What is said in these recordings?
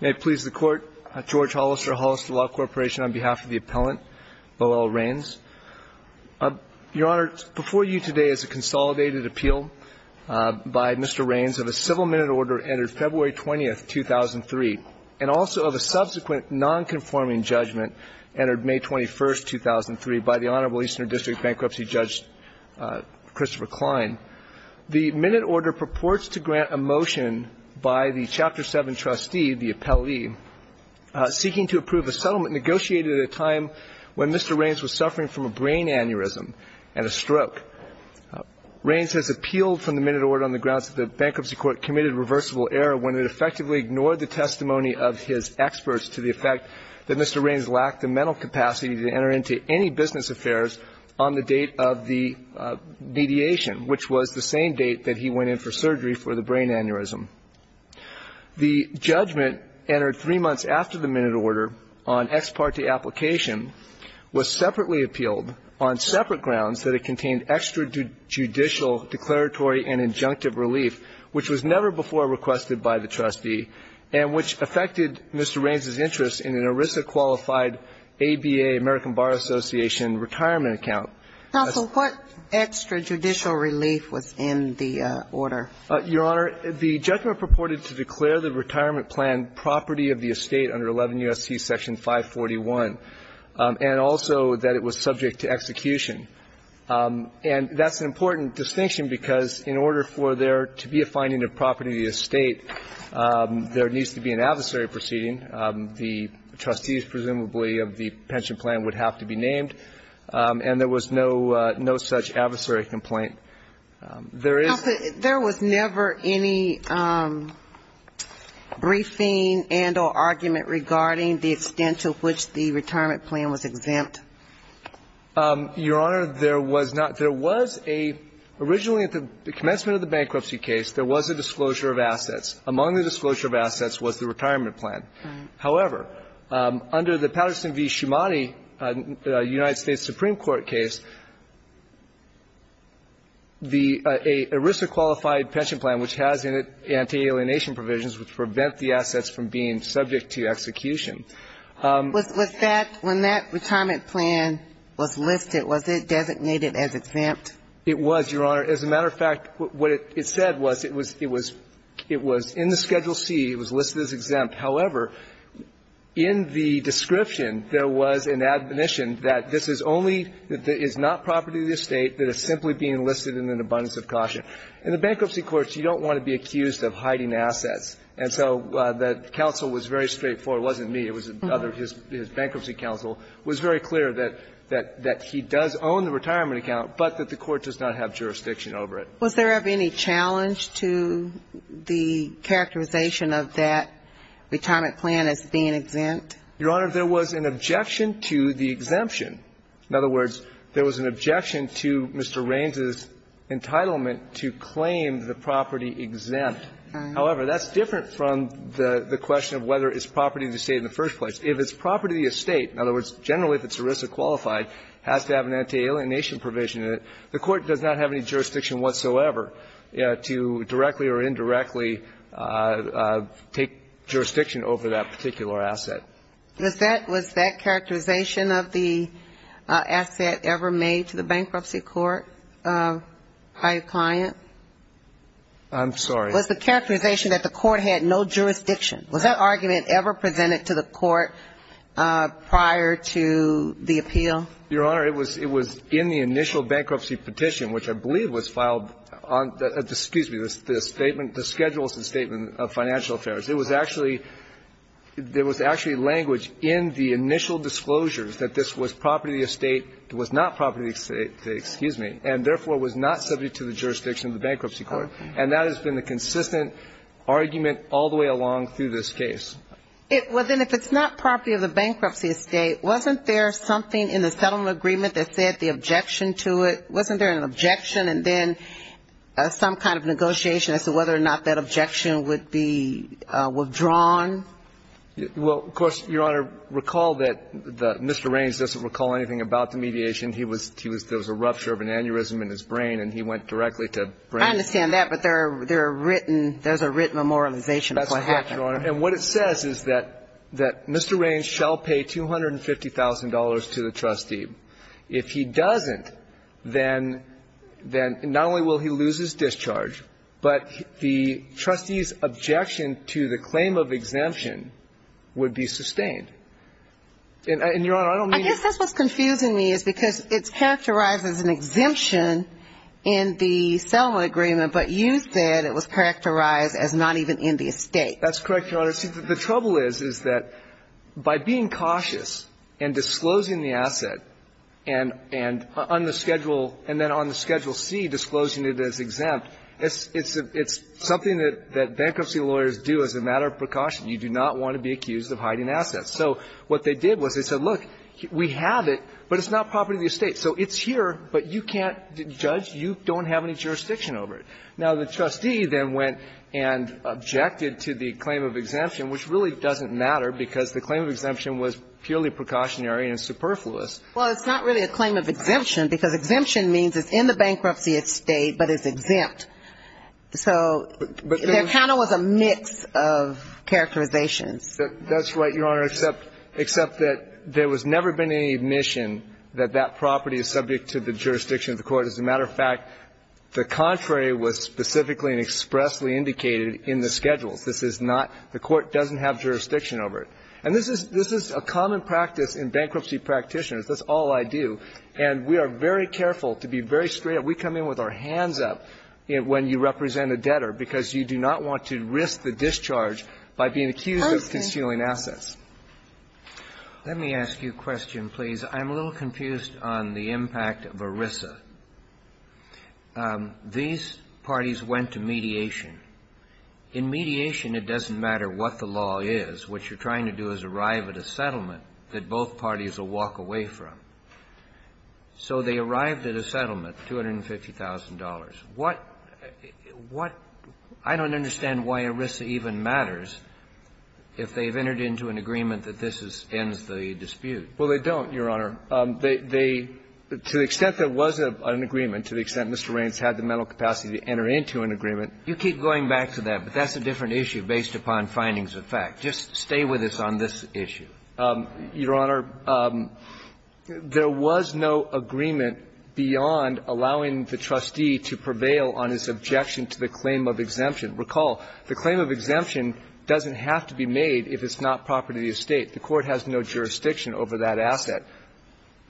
May it please the Court, George Hollister, Hollister Law Corporation, on behalf of the appellant, Bo'ell Rains. Your Honor, before you today is a consolidated appeal by Mr. Rains of a civil minute order entered February 20, 2003, and also of a subsequent nonconforming judgment entered May 21, 2003, by the Honorable Eastern District Bankruptcy Judge Christopher Kline. The minute order purports to grant a motion by the Chapter 7 trustee, the appellee, seeking to approve a settlement negotiated at a time when Mr. Rains was suffering from a brain aneurysm and a stroke. Rains has appealed from the minute order on the grounds that the Bankruptcy Court committed reversible error when it effectively ignored the testimony of his experts to the effect that Mr. Rains lacked the mental capacity to enter into any business affairs on the date of the mediation, which was the same date that he went in for surgery for the brain aneurysm. The judgment entered three months after the minute order on ex parte application was separately appealed on separate grounds that it contained extrajudicial declaratory and injunctive relief, which was never before requested by the trustee and which affected Mr. Rains' interest in an ERISA-qualified ABA, American Bar Association, retirement account. Counsel, what extrajudicial relief was in the order? Your Honor, the judgment purported to declare the retirement plan property of the estate under 11 U.S.C. Section 541, and also that it was subject to execution. And that's an important distinction because in order for there to be a finding of property of the estate, there needs to be an adversary proceeding. The trustees, presumably, of the pension plan would have to be named, and there was no such adversary complaint. There is not. Counsel, there was never any briefing and or argument regarding the extent to which the retirement plan was exempt? Your Honor, there was not. There was a originally at the commencement of the bankruptcy case, there was a disclosure of assets. Among the disclosure of assets was the retirement plan. However, under the Patterson v. Schumanni United States Supreme Court case, the ERISA-qualified pension plan, which has anti-alienation provisions which prevent the assets from being subject to execution. Was that when that retirement plan was listed, was it designated as exempt? It was, Your Honor. As a matter of fact, what it said was it was in the Schedule C. It was listed as exempt. However, in the description, there was an admonition that this is only, that it is not property of the estate that is simply being listed in an abundance of caution. In the bankruptcy courts, you don't want to be accused of hiding assets. And so the counsel was very straightforward. It wasn't me. It was another, his bankruptcy counsel was very clear that he does own the retirement account, but that the court does not have jurisdiction over it. Was there ever any challenge to the characterization of that retirement plan as being exempt? Your Honor, there was an objection to the exemption. In other words, there was an objection to Mr. Raines' entitlement to claim the property exempt. However, that's different from the question of whether it's property of the estate in the first place. If it's property of the estate, in other words, generally if it's ERISA-qualified, has to have an anti-alienation provision in it, the court does not have any jurisdiction whatsoever to directly or indirectly take jurisdiction over that particular asset. Was that characterization of the asset ever made to the bankruptcy court by a client? I'm sorry. Was the characterization that the court had no jurisdiction, was that argument ever presented to the court prior to the appeal? Your Honor, it was in the initial bankruptcy petition, which I believe was filed on the ‑‑ excuse me, the schedule of the Statement of Financial Affairs. It was actually ‑‑ there was actually language in the initial disclosures that this was property of the estate, it was not property of the estate, excuse me, and therefore was not subject to the jurisdiction of the bankruptcy court. And that has been the consistent argument all the way along through this case. Well, then if it's not property of the bankruptcy estate, wasn't there something in the settlement agreement that said the objection to it? Wasn't there an objection and then some kind of negotiation as to whether or not that objection would be withdrawn? Well, of course, Your Honor, recall that Mr. Raines doesn't recall anything about the mediation. He was ‑‑ there was a rupture of an aneurysm in his brain and he went directly to brain ‑‑ I understand that, but there are written ‑‑ there's a written memorialization of what happened. And what it says is that Mr. Raines shall pay $250,000 to the trustee. If he doesn't, then not only will he lose his discharge, but the trustee's objection to the claim of exemption would be sustained. And, Your Honor, I don't mean to ‑‑ I guess that's what's confusing me is because it's characterized as an exemption in the settlement agreement, but you said it was characterized as not even in the estate. That's correct, Your Honor. See, the trouble is, is that by being cautious and disclosing the asset and on the schedule, and then on the Schedule C disclosing it as exempt, it's something that bankruptcy lawyers do as a matter of precaution. You do not want to be accused of hiding assets. So what they did was they said, look, we have it, but it's not property of the estate. So it's here, but you can't judge. You don't have any jurisdiction over it. Now, the trustee then went and objected to the claim of exemption, which really doesn't matter because the claim of exemption was purely precautionary and superfluous. Well, it's not really a claim of exemption because exemption means it's in the bankruptcy estate, but it's exempt. So there kind of was a mix of characterizations. That's right, Your Honor, except that there was never been any admission that that property is subject to the jurisdiction of the court. As a matter of fact, the contrary was specifically and expressly indicated in the schedules. This is not the court doesn't have jurisdiction over it. And this is a common practice in bankruptcy practitioners. That's all I do. And we are very careful to be very straight. We come in with our hands up when you represent a debtor because you do not want to risk the discharge by being accused of concealing assets. Let me ask you a question, please. I'm a little confused on the impact of ERISA. These parties went to mediation. In mediation, it doesn't matter what the law is. What you're trying to do is arrive at a settlement that both parties will walk away from. So they arrived at a settlement, $250,000. What – what – I don't understand why ERISA even matters if they've entered into an agreement that this ends the dispute. Well, they don't, Your Honor. They – to the extent there was an agreement, to the extent Mr. Raines had the mental capacity to enter into an agreement. You keep going back to that, but that's a different issue based upon findings of fact. Just stay with us on this issue. Your Honor, there was no agreement beyond allowing the trustee to prevail on his objection to the claim of exemption. Recall, the claim of exemption doesn't have to be made if it's not property of the estate. The court has no jurisdiction over that asset.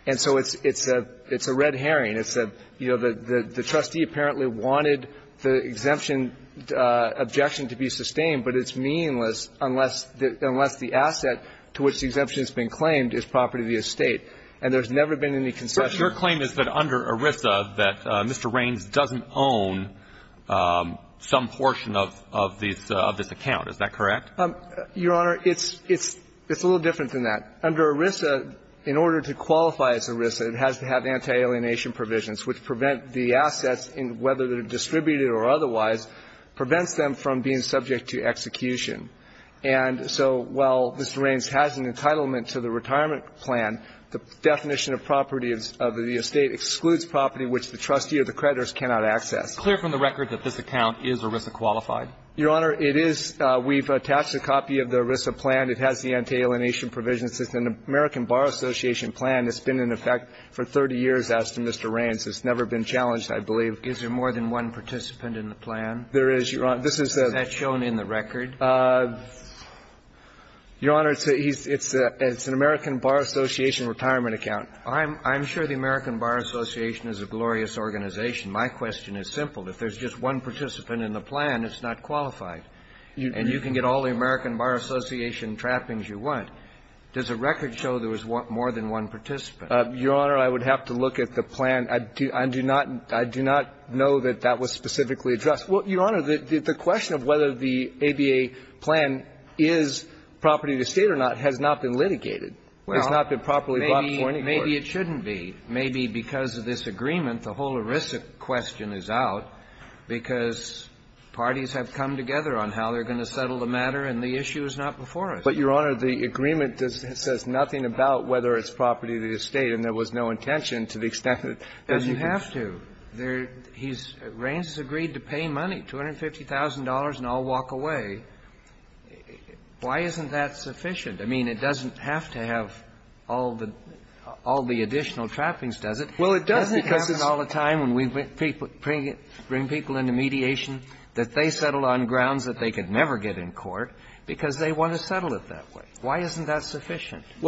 And so it's – it's a – it's a red herring. It's a – you know, the – the trustee apparently wanted the exemption objection to be sustained, but it's meaningless unless – unless the asset to which the exemption has been claimed is property of the estate. And there's never been any concession. But your claim is that under ERISA that Mr. Raines doesn't own some portion of – of this – of this account. Is that correct? Your Honor, it's – it's a little different than that. Under ERISA, in order to qualify as ERISA, it has to have anti-alienation provisions, which prevent the assets, whether they're distributed or otherwise, prevents them from being subject to execution. And so while Mr. Raines has an entitlement to the retirement plan, the definition of property of the estate excludes property which the trustee or the creditors cannot access. Clear from the record that this account is ERISA qualified? Your Honor, it is. We've attached a copy of the ERISA plan. It has the anti-alienation provisions. It's an American Bar Association plan. It's been in effect for 30 years, as to Mr. Raines. It's never been challenged, I believe. Is there more than one participant in the plan? There is, Your Honor. This is a – Is that shown in the record? Your Honor, it's a – it's an American Bar Association retirement account. I'm – I'm sure the American Bar Association is a glorious organization. My question is simple. If there's just one participant in the plan, it's not qualified. And you can get all the American Bar Association trappings you want. Does the record show there was more than one participant? Your Honor, I would have to look at the plan. I do not – I do not know that that was specifically addressed. Well, Your Honor, the question of whether the ABA plan is property of the estate or not has not been litigated. It has not been properly brought before any court. Well, maybe it shouldn't be. Maybe because of this agreement, the whole ERISA question is out because parties have come together on how they're going to settle the matter, and the issue is not before us. But, Your Honor, the agreement says nothing about whether it's property of the estate, and there was no intention to the extent that you can – But you have to. There – he's – Raines has agreed to pay money, $250,000, and I'll walk away. Why isn't that sufficient? I mean, it doesn't have to have all the – all the additional trappings, does it? Well, it doesn't because it's –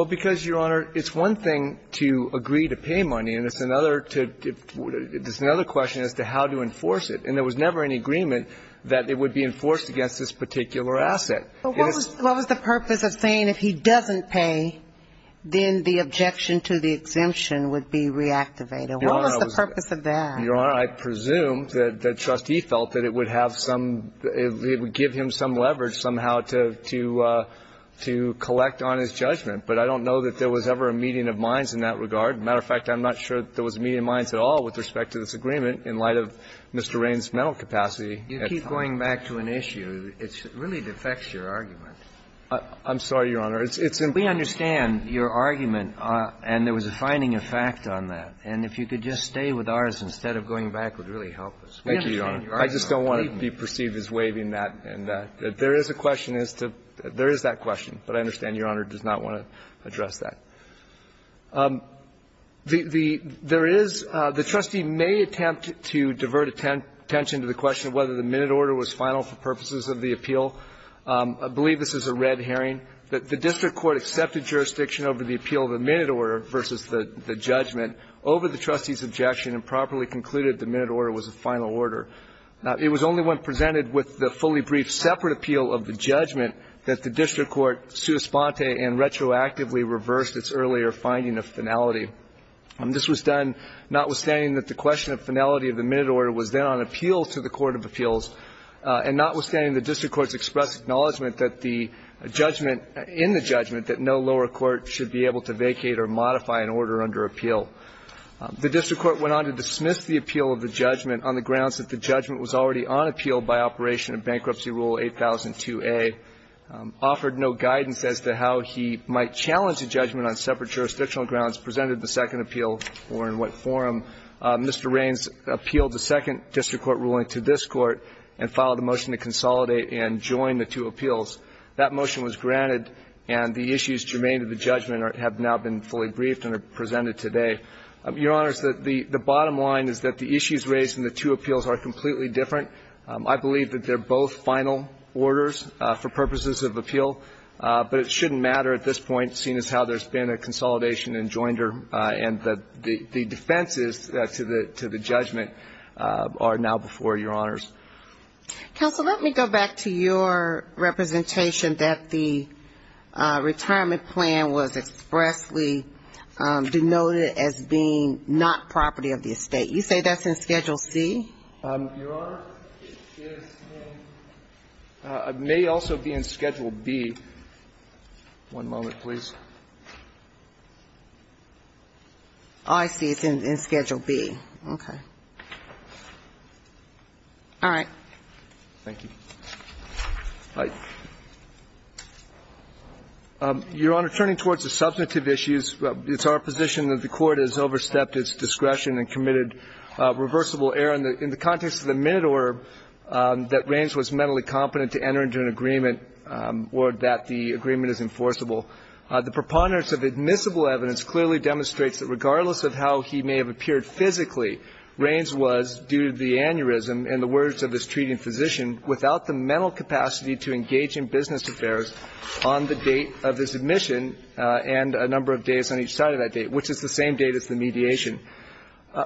Well, because, Your Honor, it's one thing to agree to pay money, and it's another to – it's another question as to how to enforce it, and there was never any agreement that it would be enforced against this particular asset. Well, what was – what was the purpose of saying if he doesn't pay, then the objection to the exemption would be reactivated? What was the purpose of that? Well, I don't know that Trustee felt that it would have some – it would give him some leverage somehow to – to collect on his judgment, but I don't know that there was ever a meeting of minds in that regard. As a matter of fact, I'm not sure that there was a meeting of minds at all with respect to this agreement in light of Mr. Raines' mental capacity at the time. You keep going back to an issue. It really defects your argument. I'm sorry, Your Honor. It's – it's important. We understand your argument, and there was a finding of fact on that. And if you could just stay with ours instead of going back would really help us. We understand your argument. Thank you, Your Honor. I just don't want to be perceived as waiving that. And there is a question as to – there is that question, but I understand Your Honor does not want to address that. The – there is – the Trustee may attempt to divert attention to the question of whether the minute order was final for purposes of the appeal. I believe this is a red herring. The district court accepted jurisdiction over the appeal of the minute order versus the judgment over the Trustee's objection and properly concluded the minute order was a final order. It was only when presented with the fully brief separate appeal of the judgment that the district court sua sponte and retroactively reversed its earlier finding of finality. This was done notwithstanding that the question of finality of the minute order was then on appeal to the Court of Appeals, and notwithstanding the district court's express acknowledgment that the judgment – The district court went on to dismiss the appeal of the judgment on the grounds that the judgment was already on appeal by operation of Bankruptcy Rule 8002A, offered no guidance as to how he might challenge the judgment on separate jurisdictional grounds, presented the second appeal, or in what form. Mr. Raines appealed the second district court ruling to this Court and filed a motion to consolidate and join the two appeals. That motion was granted and the issues germane to the judgment have now been fully briefed and are presented today. Your Honors, the bottom line is that the issues raised in the two appeals are completely different. I believe that they're both final orders for purposes of appeal, but it shouldn't matter at this point, seeing as how there's been a consolidation and joinder, and that the defenses to the judgment are now before Your Honors. Counsel, let me go back to your representation that the retirement plan was expressly denoted as being not property of the estate. You say that's in Schedule C? Your Honor, it is in – it may also be in Schedule B. One moment, please. Oh, I see. It's in Schedule B. Okay. All right. Thank you. Your Honor, turning towards the substantive issues, it's our position that the Court has overstepped its discretion and committed reversible error. In the context of the minute order that Raines was mentally competent to enter into an agreement or that the agreement is enforceable, the preponderance of admissible evidence clearly demonstrates that regardless of how he may have appeared physically, Raines was, due to the aneurysm and the words of his treating physician, without the mental capacity to engage in business affairs on the date of his admission and a number of days on each side of that date, which is the same date as the mediation.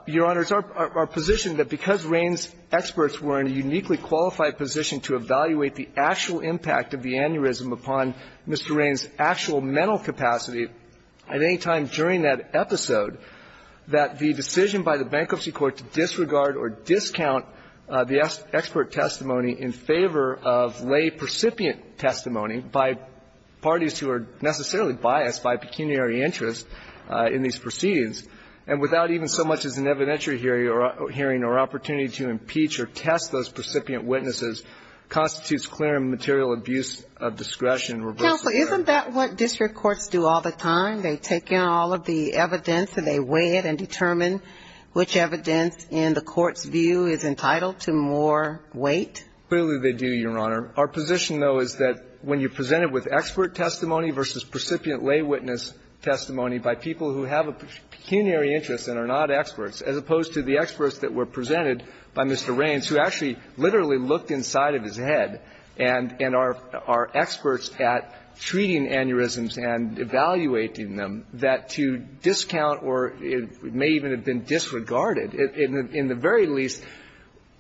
Your Honors, our position that because Raines' experts were in a uniquely qualified position to evaluate the actual impact of the aneurysm upon Mr. Raines' actual mental capacity at any time during that episode, that the decision by the Bankruptcy Court to disregard or discount the expert testimony in favor of lay-precipient testimony by parties who are necessarily biased by pecuniary interest in these proceedings and without even so much as an evidentiary hearing or opportunity to impeach or test those precipient witnesses constitutes clear and material abuse of discretion and reversible error. Counsel, isn't that what district courts do all the time? They take in all of the evidence and they weigh it and determine which evidence in the court's view is entitled to more weight? Clearly, they do, Your Honor. Our position, though, is that when you present it with expert testimony versus precipient lay witness testimony by people who have a pecuniary interest and are not experts, as opposed to the experts that were presented by Mr. Raines, who actually literally looked inside of his head and are experts at treating aneurysms and evaluating them, that to discount or it may even have been disregarded, in the very least,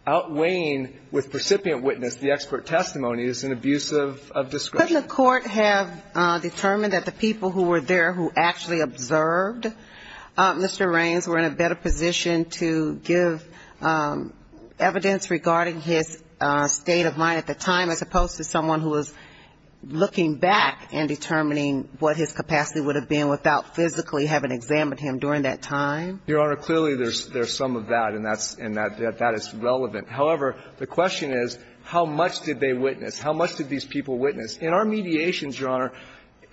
outweighing with precipient witness the expert testimony is an abuse of discretion. Couldn't the court have determined that the people who were there who actually observed Mr. Raines were in a better position to give evidence regarding his state of mind at the time, as opposed to someone who was looking back and determining what his capacity would have been without physically having examined him during that time? Your Honor, clearly, there's some of that, and that is relevant. However, the question is, how much did they witness? How much did these people witness? In our mediations, Your Honor,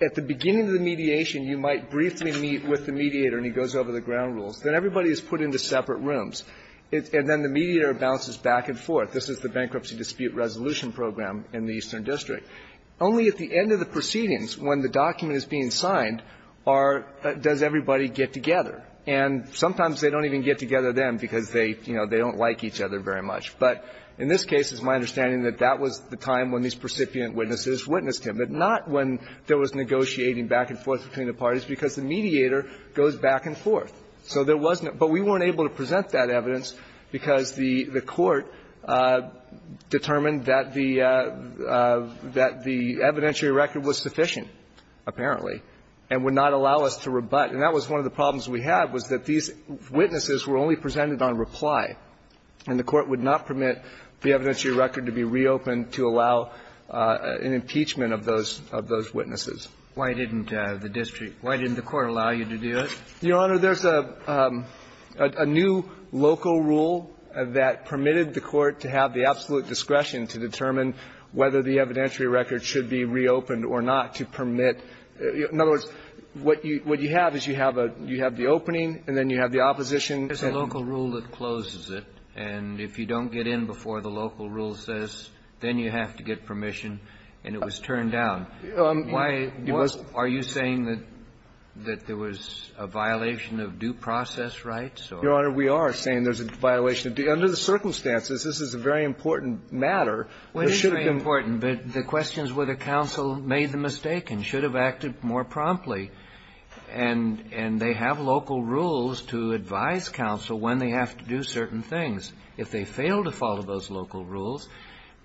at the beginning of the mediation, you might briefly meet with the mediator and he goes over the ground rules. Then everybody is put into separate rooms. And then the mediator bounces back and forth. This is the bankruptcy dispute resolution program in the Eastern District. Only at the end of the proceedings, when the document is being signed, are does everybody get together? And sometimes they don't even get together then because they, you know, they don't like each other very much. But in this case, it's my understanding that that was the time when these precipient witnesses witnessed him, but not when there was negotiating back and forth between the parties, because the mediator goes back and forth. So there was not – but we weren't able to present that evidence because the court determined that the – that the evidentiary record was sufficient, apparently, and would not allow us to rebut. And that was one of the problems we had, was that these witnesses were only presented on reply, and the Court would not permit the evidentiary record to be reopened to allow an impeachment of those – of those witnesses. Kennedy. Why didn't the district – why didn't the Court allow you to do it? Your Honor, there's a new local rule that permitted the Court to have the absolute discretion to determine whether the evidentiary record should be reopened or not to permit. In other words, what you have is you have a – you have the opening, and then you have the opposition. There's a local rule that closes it, and if you don't get in before the local rule says, then you have to get permission, and it was turned down. Why – are you saying that there was a violation of due process rights or – Your Honor, we are saying there's a violation of due – under the circumstances, this is a very important matter. There should have been – Well, it is very important, but the question is whether counsel made the mistake and should have acted more promptly. And they have local rules to advise counsel when they have to do certain things. If they fail to follow those local rules,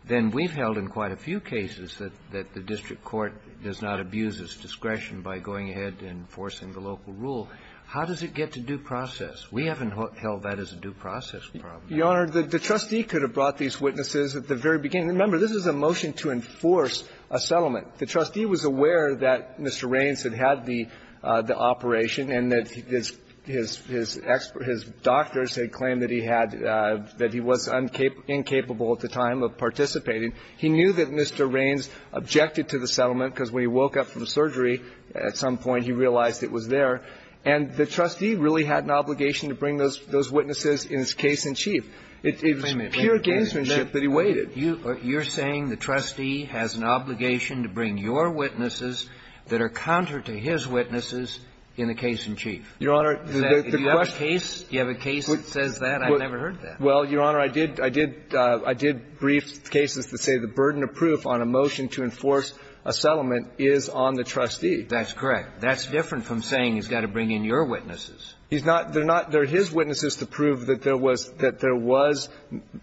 then we've held in quite a few cases that the district court does not abuse its discretion by going ahead and forcing the local rule. How does it get to due process? We haven't held that as a due process problem. Your Honor, the trustee could have brought these witnesses at the very beginning. Remember, this is a motion to enforce a settlement. The trustee was aware that Mr. Raines had had the operation and that his – his doctors had claimed that he had – that he was incapable at the time of participating. He knew that Mr. Raines objected to the settlement, because when he woke up from surgery at some point, he realized it was there. And the trustee really had an obligation to bring those – those witnesses in his case-in-chief. It was pure gamesmanship that he waited. You're saying the trustee has an obligation to bring your witnesses that are counter to his witnesses in the case-in-chief. Your Honor, the question – Do you have a case – do you have a case that says that? I've never heard that. Well, Your Honor, I did – I did – I did brief cases that say the burden of proof on a motion to enforce a settlement is on the trustee. That's correct. That's different from saying he's got to bring in your witnesses. He's not – they're not – they're his witnesses to prove that there was – that there was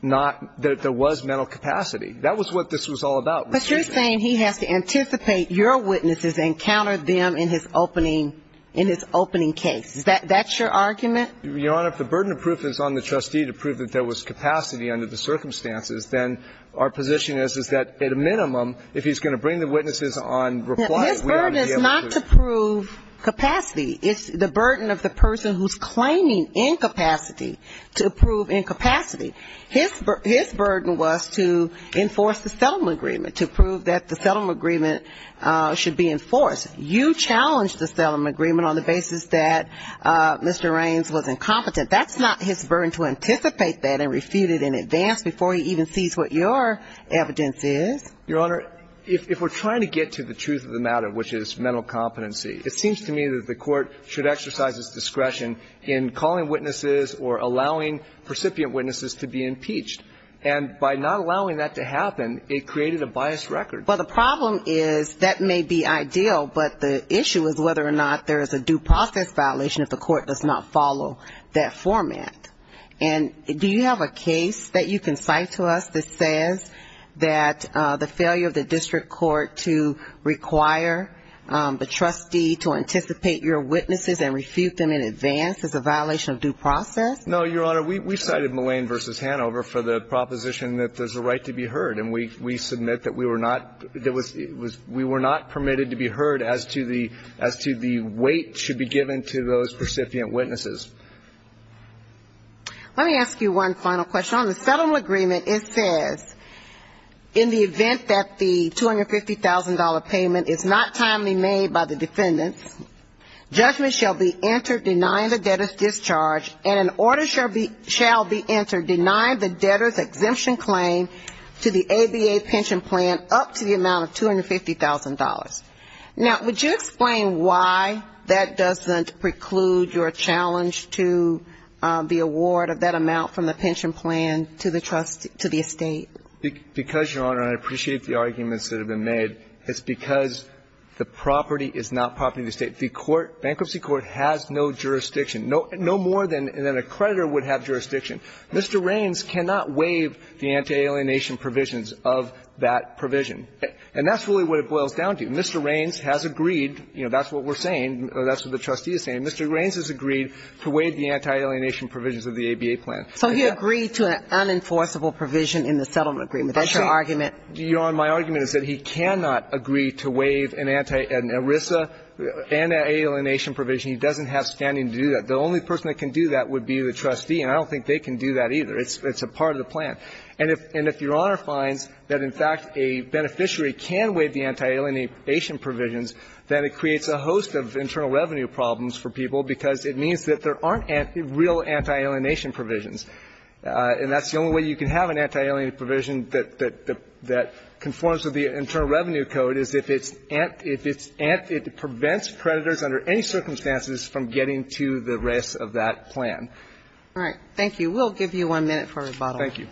not – that there was mental capacity. That was what this was all about, Mr. Chairman. But you're saying he has to anticipate your witnesses and counter them in his opening – in his opening case. Is that – that's your argument? Your Honor, if the burden of proof is on the trustee to prove that there was capacity under the circumstances, then our position is, is that at a minimum, if he's going to bring the witnesses on reply, we ought to be able to – His burden is not to prove capacity. It's the burden of the person who's claiming incapacity to prove incapacity. His – his burden was to enforce the settlement agreement, to prove that the settlement agreement should be enforced. You challenged the settlement agreement on the basis that Mr. Raines was incompetent. That's not his burden to anticipate that and refute it in advance before he even sees what your evidence is. Your Honor, if – if we're trying to get to the truth of the matter, which is mental competency, it seems to me that the court should exercise its discretion in calling witnesses or allowing recipient witnesses to be impeached. And by not allowing that to happen, it created a biased record. Well, the problem is that may be ideal, but the issue is whether or not there is a due process violation if the court does not follow that format. And do you have a case that you can cite to us that says that the failure of the district court to require the trustee to anticipate your witnesses and refute them in advance is a violation of due process? No, Your Honor. We cited Mullane v. Hanover for the proposition that there's a right to be heard. And we – we submit that we were not – that was – it was – we were not permitted to be heard as to the – as to the weight should be given to those recipient witnesses. Let me ask you one final question. On the settlement agreement, it says, in the event that the $250,000 payment is not timely made by the defendants, judgment shall be entered denying the debtor's discharge and order shall be – shall be entered denying the debtor's exemption claim to the ABA pension plan up to the amount of $250,000. Now would you explain why that doesn't preclude your challenge to the award of that amount from the pension plan to the trust – to the estate? Because Your Honor, and I appreciate the arguments that have been made, it's because the property is not property of the estate. The court – bankruptcy court has no jurisdiction. No – no more than – than a creditor would have jurisdiction. Mr. Raines cannot waive the anti-alienation provisions of that provision. And that's really what it boils down to. Mr. Raines has agreed – you know, that's what we're saying. That's what the trustee is saying. Mr. Raines has agreed to waive the anti-alienation provisions of the ABA plan. So he agreed to an unenforceable provision in the settlement agreement. That's your argument. Your Honor, my argument is that he cannot agree to waive an anti – an ERISA anti-alienation provision. He doesn't have standing to do that. The only person that can do that would be the trustee. And I don't think they can do that, either. It's – it's a part of the plan. And if – and if Your Honor finds that, in fact, a beneficiary can waive the anti-alienation provisions, then it creates a host of internal revenue problems for people, because it means that there aren't real anti-alienation provisions. And that's the only way you can have an anti-alienation provision that – that conforms to the Internal Revenue Code, is if it's – if it's – it prevents creditors under any circumstances from getting to the rest of that plan. All right. Thank you. We'll give you one minute for rebuttal. Thank you.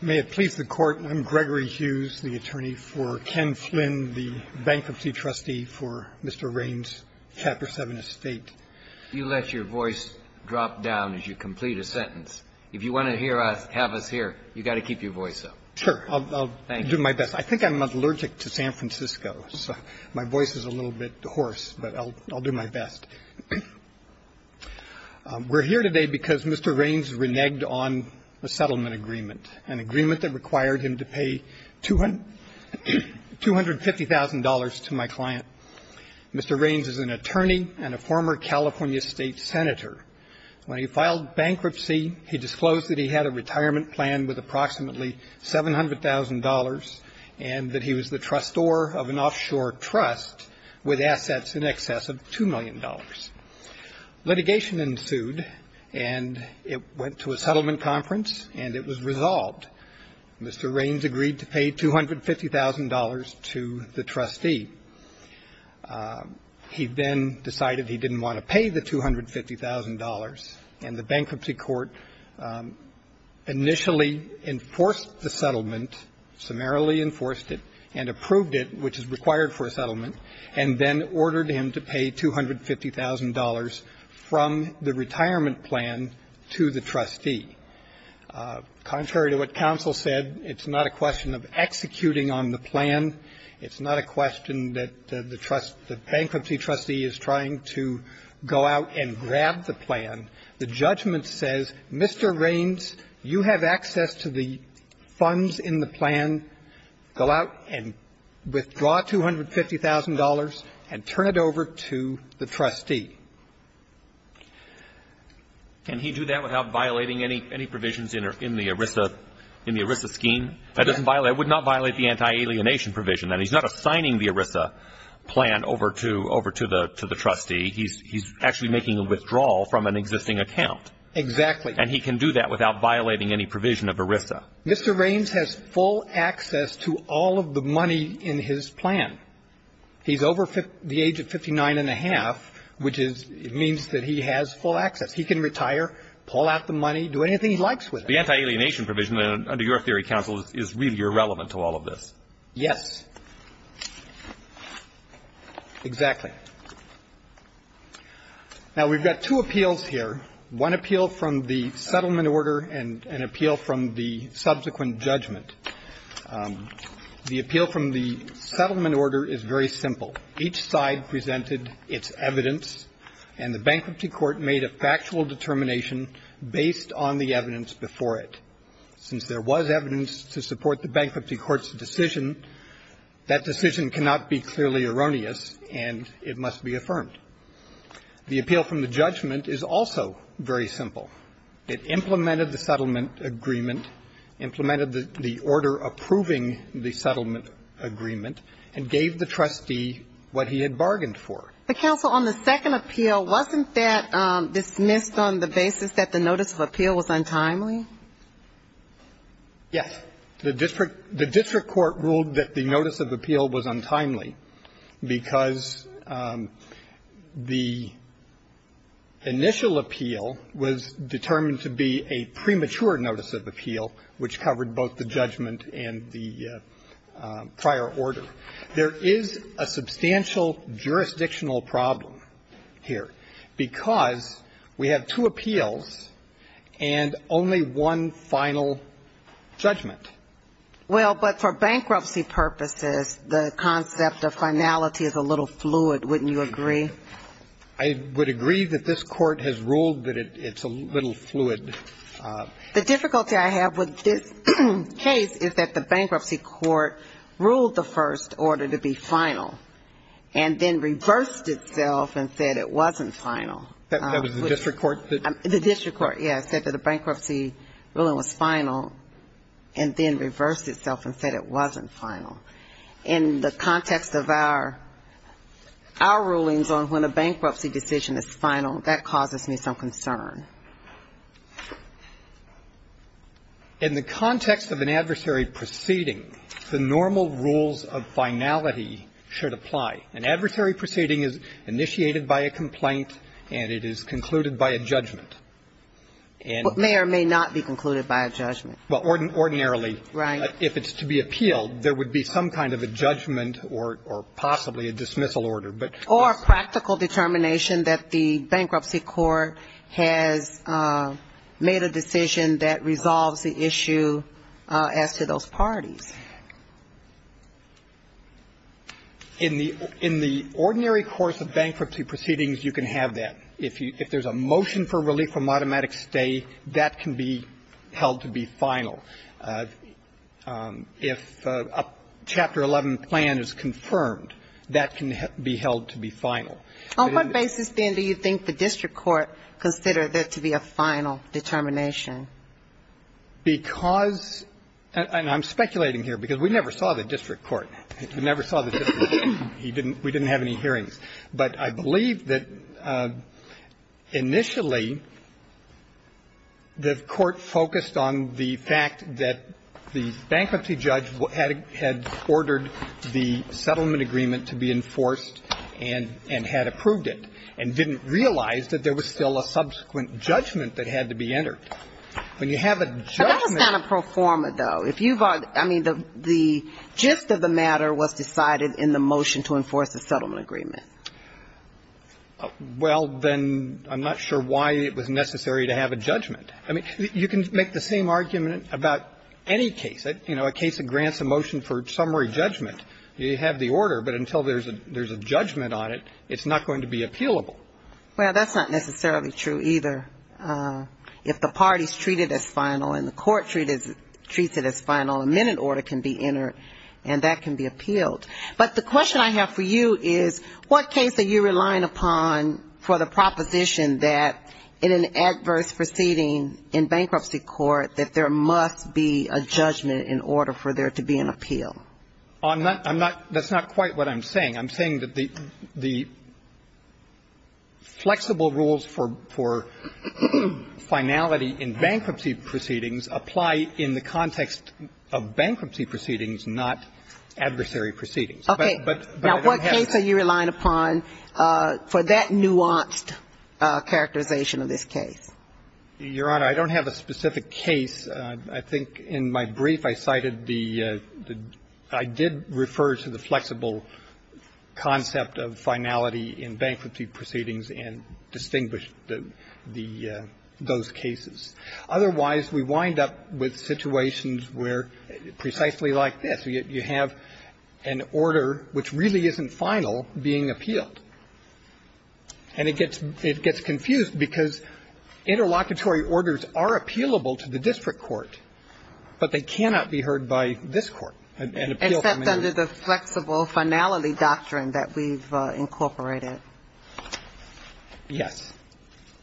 May it please the Court. I'm Gregory Hughes, the attorney for Ken Flynn, the bankruptcy trustee for Mr. Raines' Chapter 7 estate. You let your voice drop down as you complete a sentence. If you want to hear us, have us here, you've got to keep your voice up. Sure. I'll do my best. I think I'm allergic to San Francisco, so my voice is a little bit hoarse, but I'll do my best. We're here today because Mr. Raines reneged on a settlement agreement, an agreement that required him to pay $250,000 to my client. Mr. Raines is an attorney and a former California State Senator. When he filed bankruptcy, he disclosed that he had a retirement plan with approximately $700,000 and that he was the trustor of an offshore trust with assets in excess of $2 million. Litigation ensued, and it went to a settlement conference, and it was resolved. Mr. Raines agreed to pay $250,000 to the trustee. He then decided he didn't want to pay the $250,000, and the Bankruptcy Court initially enforced the settlement, summarily enforced it, and approved it, which is required for a settlement, and then ordered him to pay $250,000 from the retirement plan to the trustee. Contrary to what counsel said, it's not a question of executing on the plan. It's not a question that the trust the bankruptcy trustee is trying to go out and grab the plan. The judgment says, Mr. Raines, you have access to the funds in the plan. Go out and withdraw $250,000 and turn it over to the trustee. Can he do that without violating any provisions in the ERISA scheme? It would not violate the anti-alienation provision. And he's not assigning the ERISA plan over to the trustee. He's actually making a withdrawal from an existing account. Exactly. And he can do that without violating any provision of ERISA. Mr. Raines has full access to all of the money in his plan. He's over the age of 59 and a half, which means that he has full access. He can retire, pull out the money, do anything he likes with it. The anti-alienation provision, under your theory, counsel, is really irrelevant to all of this. Yes, exactly. Now, we've got two appeals here, one appeal from the settlement order and an appeal from the subsequent judgment. The appeal from the settlement order is very simple. Each side presented its evidence, and the bankruptcy court made a factual determination based on the evidence before it. Since there was evidence to support the bankruptcy court's decision, that decision cannot be clearly erroneous, and it must be affirmed. The appeal from the judgment is also very simple. It implemented the settlement agreement, implemented the order approving the settlement agreement, and gave the trustee what he had bargained for. But, counsel, on the second appeal, wasn't that dismissed on the basis that the notice of appeal was untimely? Yes. The district court ruled that the notice of appeal was untimely, because the initial appeal was determined to be a premature notice of appeal, which covered both the judgment and the prior order. There is a substantial jurisdictional problem here, because we have two appeals and only one final judgment. Well, but for bankruptcy purposes, the concept of finality is a little fluid, wouldn't you agree? I would agree that this Court has ruled that it's a little fluid. The difficulty I have with this case is that the bankruptcy court ruled the first order to be final, and then reversed itself and said it wasn't final. That was the district court? The district court, yes, said that the bankruptcy ruling was final, and then reversed itself and said it wasn't final. In the context of our rulings on when a bankruptcy decision is final, that causes me some concern. In the context of an adversary proceeding, the normal rules of finality should apply. An adversary proceeding is initiated by a complaint and it is concluded by a judgment. And the judgment is not final. But may or may not be concluded by a judgment. Well, ordinarily, if it's to be appealed, there would be some kind of a judgment or possibly a dismissal order. Or a practical determination that the bankruptcy court has made a decision that resolves the issue as to those parties. In the ordinary course of bankruptcy proceedings, you can have that. If there's a motion for relief from automatic stay, that can be held to be final. If a Chapter 11 plan is confirmed, that can be held to be final. On what basis, then, do you think the district court considered that to be a final determination? Because, and I'm speculating here, because we never saw the district court. We never saw the district court. We didn't have any hearings. But I believe that initially, the court focused on the fact that the bankruptcy judge had ordered the settlement agreement to be enforced and had approved it, and didn't realize that there was still a subsequent judgment that had to be entered. When you have a judgment of a settlement agreement, it's not a pro forma, though. If you've argued, I mean, the gist of the matter was decided in the motion to enforce the settlement agreement. Well, then, I'm not sure why it was necessary to have a judgment. I mean, you can make the same argument about any case. You know, a case that grants a motion for summary judgment, you have the order. But until there's a judgment on it, it's not going to be appealable. Well, that's not necessarily true, either. If the parties treat it as final and the court treats it as final, a minute order can be entered, and that can be appealed. But the question I have for you is, what case are you relying upon for the proposition that in an adverse proceeding in bankruptcy court, that there must be a judgment in order for there to be an appeal? I'm not – I'm not – that's not quite what I'm saying. I'm saying that the – the flexible rules for – for finality in bankruptcy proceedings apply in the context of bankruptcy proceedings, not adversary proceedings. But I don't have to – Okay. Now, what case are you relying upon for that nuanced characterization of this case? Your Honor, I don't have a specific case. I think in my brief, I cited the – I did refer to the flexible concept of finality in bankruptcy proceedings and distinguished the – the – those cases. Otherwise, we wind up with situations where, precisely like this, you have an order which really isn't final being appealed. And it gets – it gets confused, because interlocutory orders are appealable to the district court, but they cannot be heard by this Court, an appeal from a new court. And that's under the flexible finality doctrine that we've incorporated. Yes.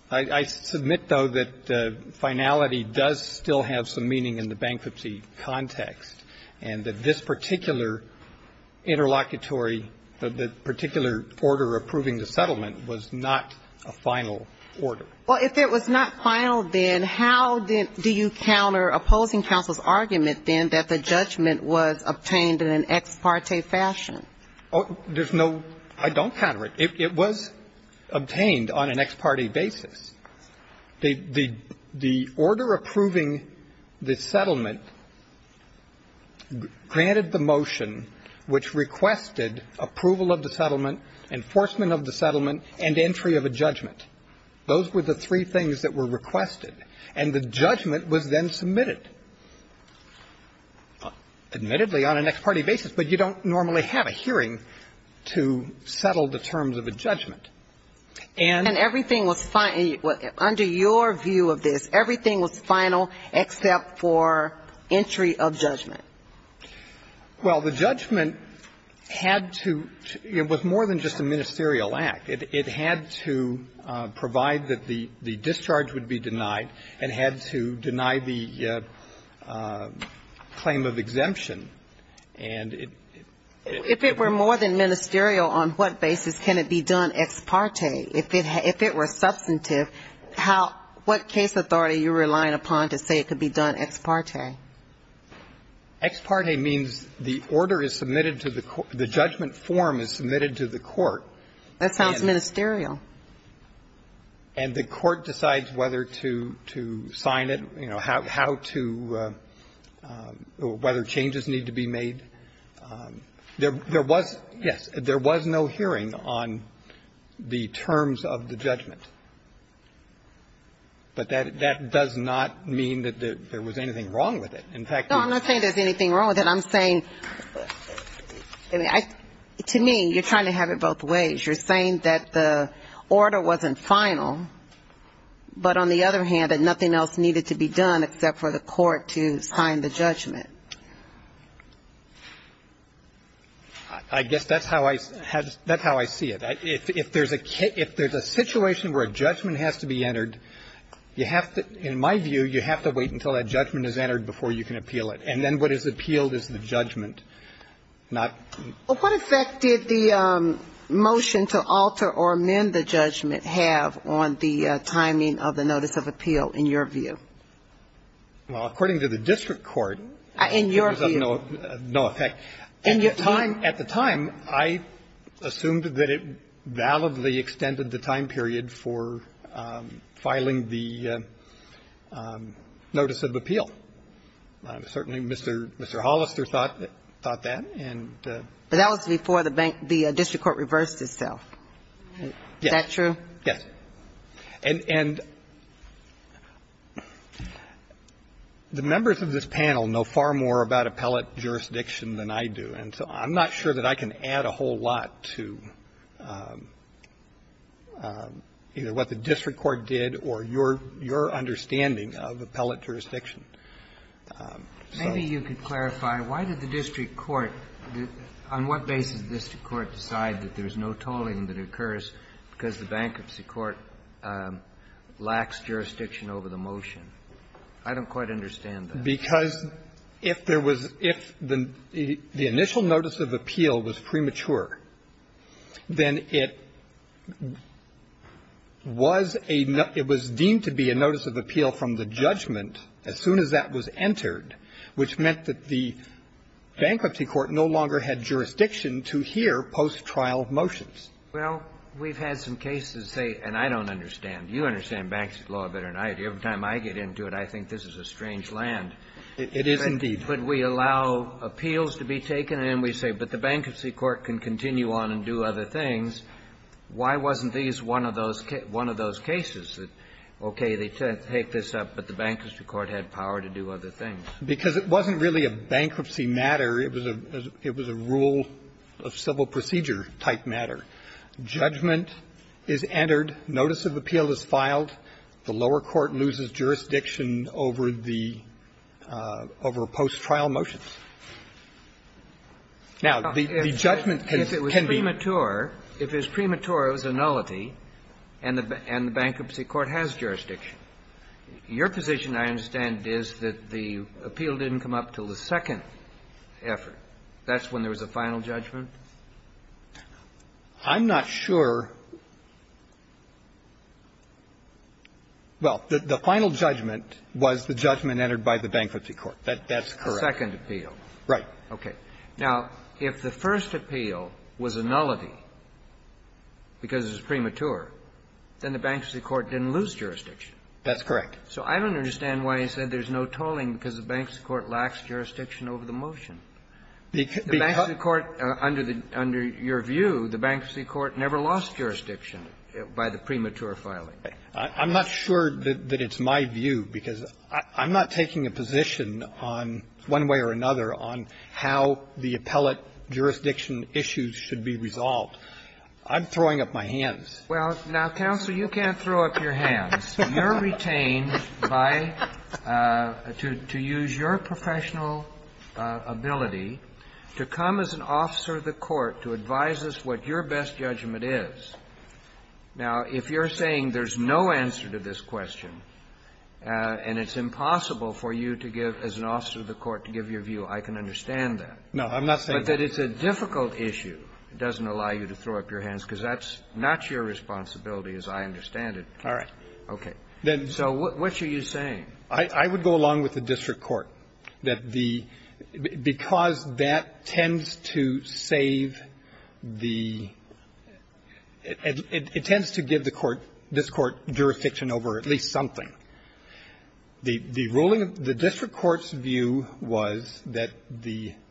I – I submit, though, that finality does still have some meaning in the bankruptcy context, and that this particular interlocutory – the particular order approving the settlement was not a final order. Well, if it was not final, then how did – do you counter opposing counsel's argument, then, that the judgment was obtained in an ex parte fashion? There's no – I don't counter it. It was obtained on an ex parte basis. The – the order approving the settlement granted the motion which requested approval of the settlement, enforcement of the settlement, and entry of a judgment. Those were the three things that were requested. And the judgment was then submitted, admittedly, on an ex parte basis. But you don't normally have a hearing to settle the terms of a judgment. And – And everything was – under your view of this, everything was final except for entry of judgment. Well, the judgment had to – it was more than just a ministerial act. It had to provide that the discharge would be denied and had to deny the claim of exemption. And it – it was – If it were more than ministerial, on what basis can it be done ex parte? If it – if it were substantive, how – what case authority are you relying upon to say it could be done ex parte? Ex parte means the order is submitted to the court – the judgment form is submitted to the court. That sounds ministerial. And the court decides whether to – to sign it, you know, how to – whether changes need to be made. There – there was – yes, there was no hearing on the terms of the judgment. But that – that does not mean that there was anything wrong with it. In fact, the – No, I'm not saying there's anything wrong with it. I'm saying – I mean, I – to me, you're trying to have it both ways. You're saying that the order wasn't final, but on the other hand, that nothing else needed to be done except for the court to sign the judgment. I guess that's how I – that's how I see it. If – if there's a – if there's a situation where a judgment has to be entered, you have to – in my view, you have to wait until that judgment is entered before you can appeal it. And then what is appealed is the judgment, not the – Well, what effect did the motion to alter or amend the judgment have on the timing of the notice of appeal in your view? Well, according to the district court, it was of no effect. In your view? In your view? At the time – at the time, I assumed that it validly extended the time period for filing the notice of appeal. Certainly, Mr. – Mr. Hollister thought that and the – But that was before the bank – the district court reversed itself. Is that true? Yes. And – and the members of this panel know far more about appellate jurisdiction than I do, and so I'm not sure that I can add a whole lot to either what the district court did or your – your understanding of appellate jurisdiction. Maybe you could clarify, why did the district court – on what basis did the district court decide that there's no tolling that occurs because the bankruptcy court lacks jurisdiction over the motion? I don't quite understand that. Because if there was – if the initial notice of appeal was premature, then it was a – it was deemed to be a notice of appeal from the judgment as soon as that was Well, we've had some cases say – and I don't understand. You understand bankruptcy law better than I do. Every time I get into it, I think this is a strange land. It is indeed. But we allow appeals to be taken and then we say, but the bankruptcy court can continue on and do other things. Why wasn't these one of those – one of those cases that, okay, they take this up, but the bankruptcy court had power to do other things? Because it wasn't really a bankruptcy matter. It was a – it was a rule of civil procedure-type matter. Judgment is entered, notice of appeal is filed, the lower court loses jurisdiction over the – over post-trial motions. Now, the judgment can be – Well, if it was premature, if it was premature, it was a nullity, and the – and the bankruptcy court has jurisdiction. Your position, I understand, is that the appeal didn't come up until the second effort. That's when there was a final judgment? I'm not sure. Well, the final judgment was the judgment entered by the bankruptcy court. That's correct. The second appeal. Right. Okay. Now, if the first appeal was a nullity because it was premature, then the bankruptcy court didn't lose jurisdiction. That's correct. So I don't understand why you said there's no tolling because the bankruptcy court lacks jurisdiction over the motion. The bankruptcy court, under the – under your view, the bankruptcy court never lost jurisdiction by the premature filing. I'm not sure that it's my view, because I'm not taking a position on, one way or another, on how the appellate jurisdiction issues should be resolved. I'm throwing up my hands. Well, now, counsel, you can't throw up your hands. You're retained by – to use your professional ability to come as an officer of the court to advise us what your best judgment is. Now, if you're saying there's no answer to this question and it's impossible for you to give – as an officer of the court to give your view, I can understand that. No, I'm not saying that. But that it's a difficult issue doesn't allow you to throw up your hands, because that's not your responsibility, as I understand it. All right. Okay. So what are you saying? I would go along with the district court, that the – because that tends to save the – it tends to give the court – this Court jurisdiction over at least something. The ruling of – the district court's view was that the –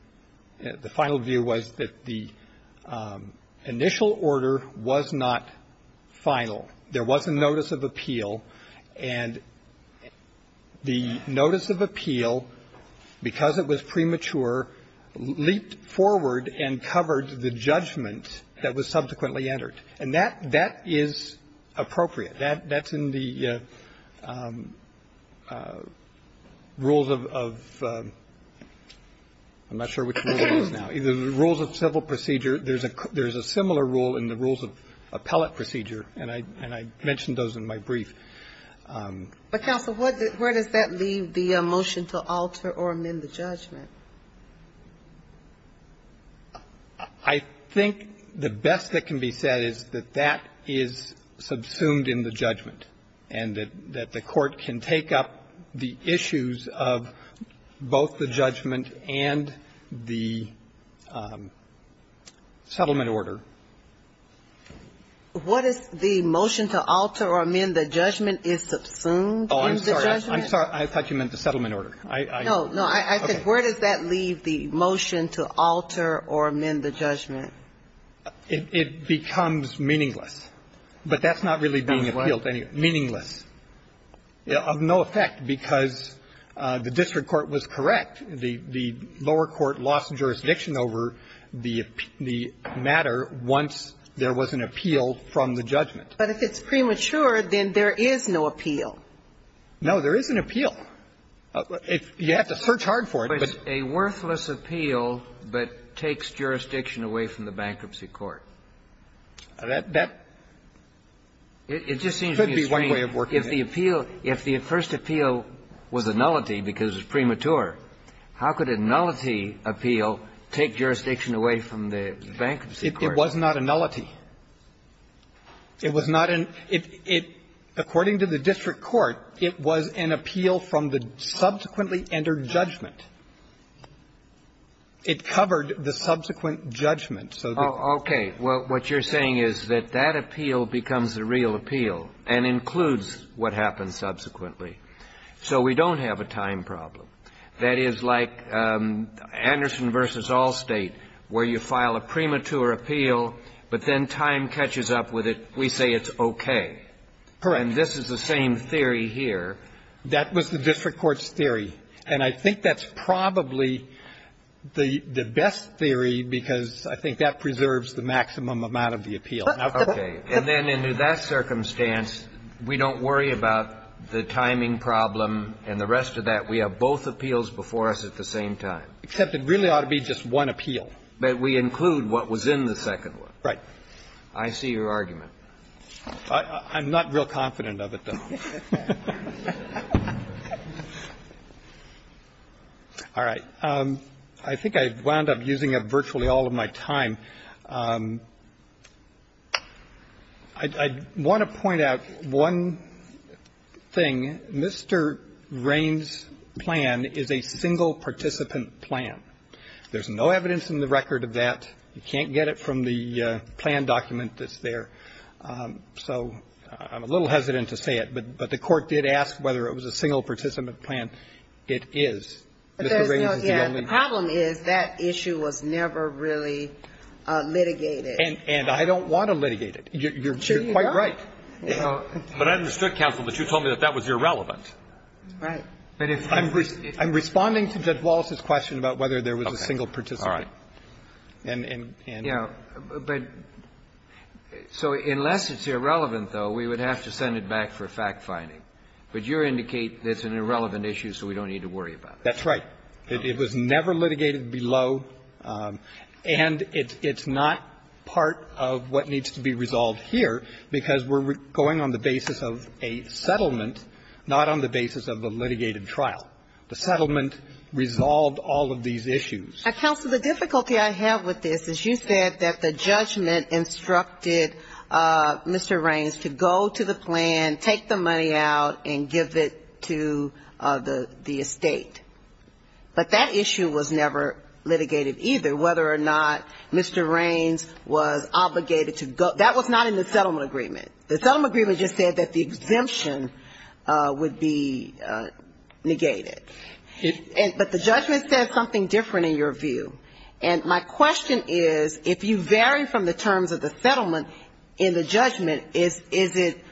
the final view was that the initial order was not final. There was a notice of appeal, and the notice of appeal, because it was premature, leaped forward and covered the judgment that was subsequently entered. And that – that is appropriate. That's in the rules of – I'm not sure which rule it is now. The rules of civil procedure, there's a similar rule in the rules of appellate procedure, and I mentioned those in my brief. But, counsel, where does that leave the motion to alter or amend the judgment? I think the best that can be said is that that is subsumed in the judgment, and that the court can take up the issues of both the judgment and the settlement order. What is the motion to alter or amend the judgment is subsumed in the judgment? Oh, I'm sorry. I'm sorry. I thought you meant the settlement order. I – I – No. No. I said, where does that leave the motion to alter or amend the judgment? It becomes meaningless. But that's not really being appealed anyway. Meaningless. Of no effect, because the district court was correct. The lower court lost jurisdiction over the matter once there was an appeal from the judgment. But if it's premature, then there is no appeal. No, there is an appeal. You have to search hard for it, but — But a worthless appeal that takes jurisdiction away from the bankruptcy court. That – that could be one way of working it. It just seems to me strange. If the appeal – if the first appeal was a nullity because it's premature, how could a nullity appeal take jurisdiction away from the bankruptcy court? It was not a nullity. It was not an – it – it – according to the district court, it was an appeal from the subsequently entered judgment. It covered the subsequent judgment. So the – Oh, okay. Well, what you're saying is that that appeal becomes the real appeal and includes what happens subsequently. So we don't have a time problem. That is like Anderson v. Allstate, where you file a premature appeal, but then time catches up with it, we say it's okay. Correct. And this is the same theory here. That was the district court's theory. And I think that's probably the – the best theory, because I think that preserves the maximum amount of the appeal. Okay. And then in that circumstance, we don't worry about the timing problem and the rest of that. We have both appeals before us at the same time. Except it really ought to be just one appeal. But we include what was in the second one. Right. I see your argument. I'm not real confident of it, though. All right. I think I wound up using it virtually all of my time. I want to point out one thing. Mr. Raines' plan is a single participant plan. There's no evidence in the record of that. You can't get it from the plan document that's there. So I'm a little hesitant to say it, but the court did ask whether it was a single participant plan. It is. Mr. Raines is the only one. The problem is that issue was never really litigated. And I don't want to litigate it. You're quite right. But I understood, counsel, that you told me that that was irrelevant. Right. But if you were to – I'm responding to Judge Wallace's question about whether there was a single participant. All right. And – Yeah, but – so unless it's irrelevant, though, we would have to send it back for fact-finding. But you indicate it's an irrelevant issue, so we don't need to worry about it. That's right. It was never litigated below, and it's not part of what needs to be resolved here, because we're going on the basis of a settlement, not on the basis of a litigated trial. The settlement resolved all of these issues. Counsel, the difficulty I have with this is you said that the judgment instructed Mr. Raines to go to the plan, take the money out, and give it to the estate. But that issue was never litigated either, whether or not Mr. Raines was obligated to go – that was not in the settlement agreement. The settlement agreement just said that the exemption would be negated. But the judgment said something different in your view. And my question is, if you vary from the terms of the settlement in the judgment, is it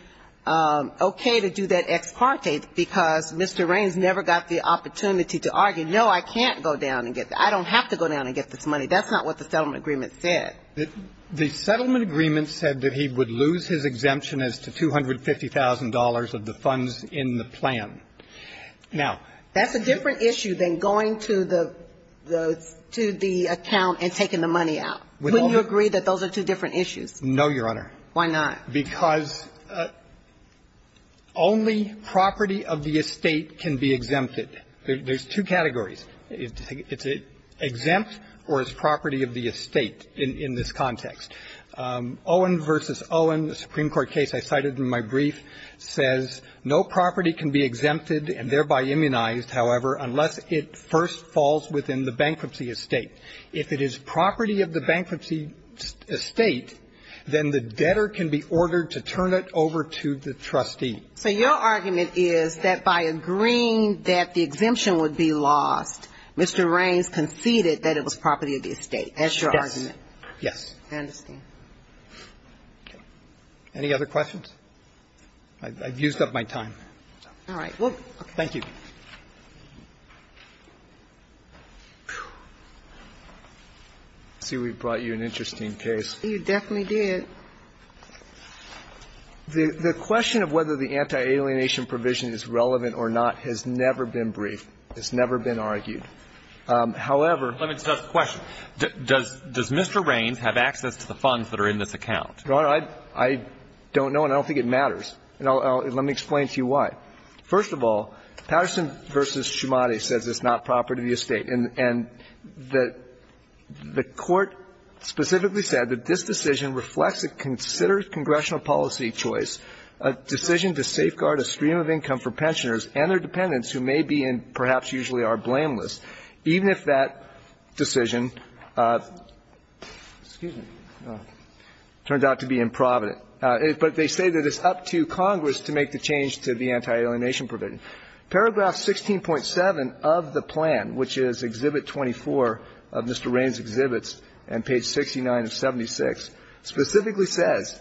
okay to do that ex parte, because Mr. Raines never got the opportunity to argue, no, I can't go down and get – I don't have to go down and get this money. That's not what the settlement agreement said. The settlement agreement said that he would lose his exemption as to $250,000 of the funds in the plan. Now – That's a different issue than going to the account and taking the money out. Wouldn't you agree that those are two different issues? No, Your Honor. Why not? Because only property of the estate can be exempted. There's two categories. It's exempt or it's property of the estate in this context. Owen v. Owen, a Supreme Court case I cited in my brief, says no property can be exempted and thereby immunized, however, unless it first falls within the bankruptcy estate. If it is property of the bankruptcy estate, then the debtor can be ordered to turn it over to the trustee. So your argument is that by agreeing that the exemption would be lost, Mr. Raines conceded that it was property of the estate. That's your argument? Yes. Yes. I understand. Any other questions? I've used up my time. All right. Thank you. I see we've brought you an interesting case. You definitely did. The question of whether the anti-alienation provision is relevant or not has never been briefed. It's never been argued. However Let me just ask a question. Does Mr. Raines have access to the funds that are in this account? Your Honor, I don't know and I don't think it matters. Let me explain to you why. First of all, Patterson v. Schumade says it's not property of the estate. And the Court specifically said that this decision reflects a considerate congressional policy choice, a decision to safeguard a stream of income for pensioners and their dependents who may be and perhaps usually are blameless, even if that decision, excuse me, turns out to be improvident. But they say that it's up to Congress to make the change to the anti-alienation provision. Paragraph 16.7 of the plan, which is Exhibit 24 of Mr. Raines' exhibits and page 69 of 76, specifically says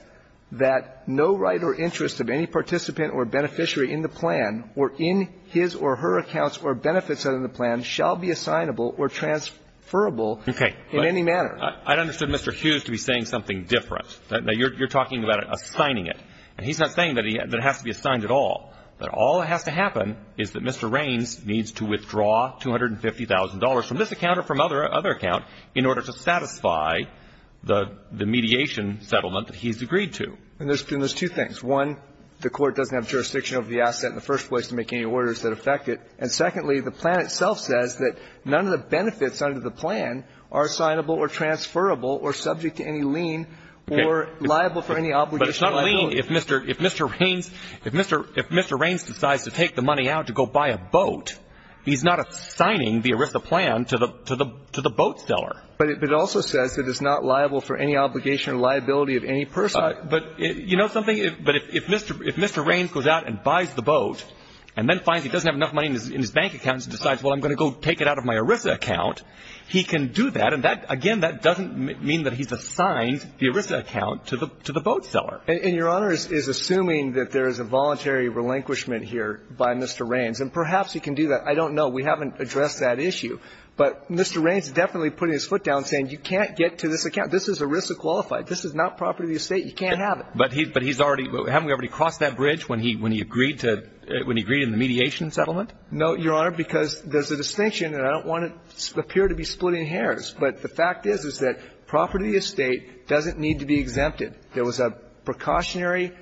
that no right or interest of any participant or beneficiary in the plan or in his or her accounts or benefits of the plan shall be assignable or transferable in any manner. I understood Mr. Hughes to be saying something different. Now, you're talking about assigning it. And he's not saying that it has to be assigned at all. That all that has to happen is that Mr. Raines needs to withdraw $250,000 from this account or from another account in order to satisfy the mediation settlement that he's agreed to. And there's two things. One, the Court doesn't have jurisdiction over the asset in the first place to make any orders that affect it. And secondly, the plan itself says that none of the benefits under the plan are assignable or transferable or subject to any lien or liable for any obligation or liability. But it's not a lien if Mr. Raines, if Mr. Raines decides to take the money out to go buy a boat, he's not assigning the ERISA plan to the boat seller. But it also says that it's not liable for any obligation or liability of any person. But you know something? If Mr. Raines goes out and buys the boat and then finds he doesn't have enough money in his bank account and decides, well, I'm going to go take it out of my ERISA account, he can do that. And that, again, that doesn't mean that he's assigned the ERISA account to the boat seller. And Your Honor is assuming that there is a voluntary relinquishment here by Mr. Raines. And perhaps he can do that. I don't know. We haven't addressed that issue. But Mr. Raines is definitely putting his foot down saying you can't get to this account. This is ERISA qualified. This is not property of the estate. You can't have it. But he's already – haven't we already crossed that bridge when he agreed to – when he agreed in the mediation settlement? No, Your Honor, because there's a distinction. And I don't want to appear to be splitting hairs. But the fact is, is that property of the estate doesn't need to be exempted. There was a precautionary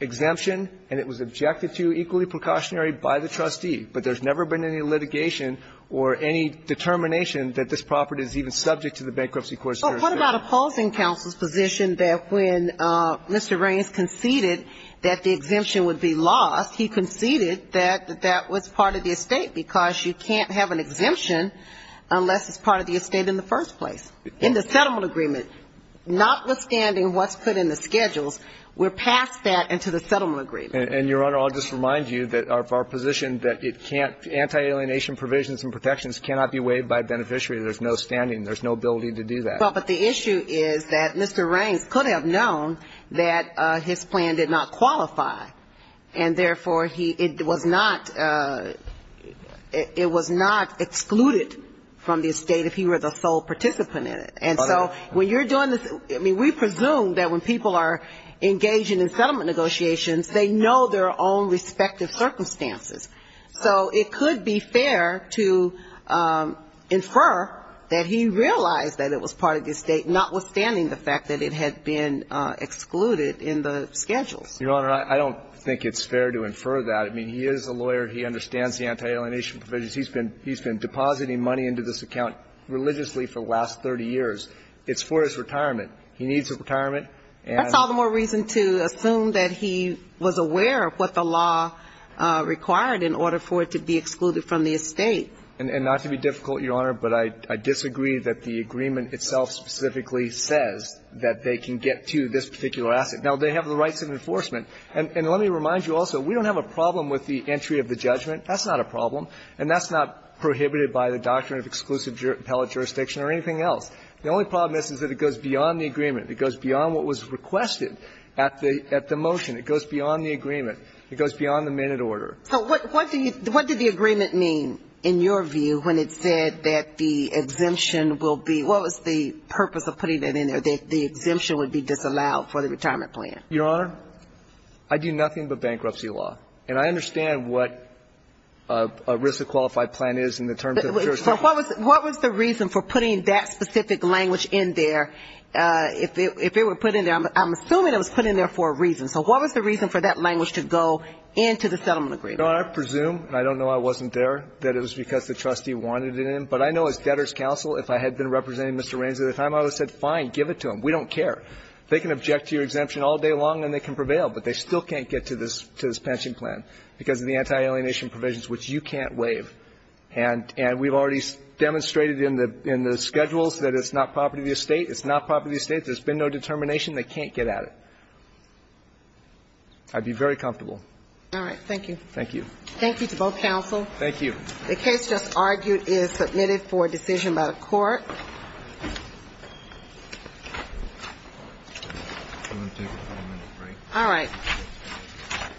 exemption and it was objected to, equally precautionary, by the trustee. But there's never been any litigation or any determination that this property is even subject to the Bankruptcy Court's jurisdiction. But what about opposing counsel's position that when Mr. Raines conceded that the estate because you can't have an exemption unless it's part of the estate in the first place, in the settlement agreement, notwithstanding what's put in the schedules, we're past that and to the settlement agreement. And, Your Honor, I'll just remind you that our position that it can't – anti-alienation provisions and protections cannot be waived by a beneficiary. There's no standing. There's no ability to do that. Well, but the issue is that Mr. Raines could have known that his plan did not – it was not excluded from the estate if he were the sole participant in it. And so when you're doing this – I mean, we presume that when people are engaging in settlement negotiations, they know their own respective circumstances. So it could be fair to infer that he realized that it was part of the estate, notwithstanding the fact that it had been excluded in the schedules. Your Honor, I don't think it's fair to infer that. I mean, he is a lawyer. He understands the anti-alienation provisions. He's been – he's been depositing money into this account religiously for the last 30 years. It's for his retirement. He needs his retirement. And – That's all the more reason to assume that he was aware of what the law required in order for it to be excluded from the estate. And not to be difficult, Your Honor, but I disagree that the agreement itself specifically says that they can get to this particular asset. Now, they have the rights of enforcement. And let me remind you also, we don't have a problem with the entry of the judgment. That's not a problem. And that's not prohibited by the doctrine of exclusive appellate jurisdiction or anything else. The only problem is, is that it goes beyond the agreement. It goes beyond what was requested at the – at the motion. It goes beyond the agreement. It goes beyond the minute order. So what do you – what did the agreement mean in your view when it said that the exemption will be – what was the purpose of putting that in there, that the exemption would be disallowed for the retirement plan? Your Honor, I do nothing but bankruptcy law. And I understand what a risk of qualified plan is in the terms of the jurisdiction. But what was – what was the reason for putting that specific language in there if it – if it were put in there? I'm assuming it was put in there for a reason. So what was the reason for that language to go into the settlement agreement? Your Honor, I presume, and I don't know I wasn't there, that it was because the trustee wanted it in. But I know as debtor's counsel, if I had been representing Mr. Raines at the time, I would have said, fine, give it to him. We don't care. They can object to your exemption all day long and they can prevail, but they still can't get to this – to this pension plan because of the anti-alienation provisions, which you can't waive. And – and we've already demonstrated in the – in the schedules that it's not property of the estate. It's not property of the estate. There's been no determination. They can't get at it. I'd be very comfortable. All right. Thank you. Thank you to both counsel. Thank you. The case just argued is submitted for decision by the court. I'm going to take a five-minute break. All right.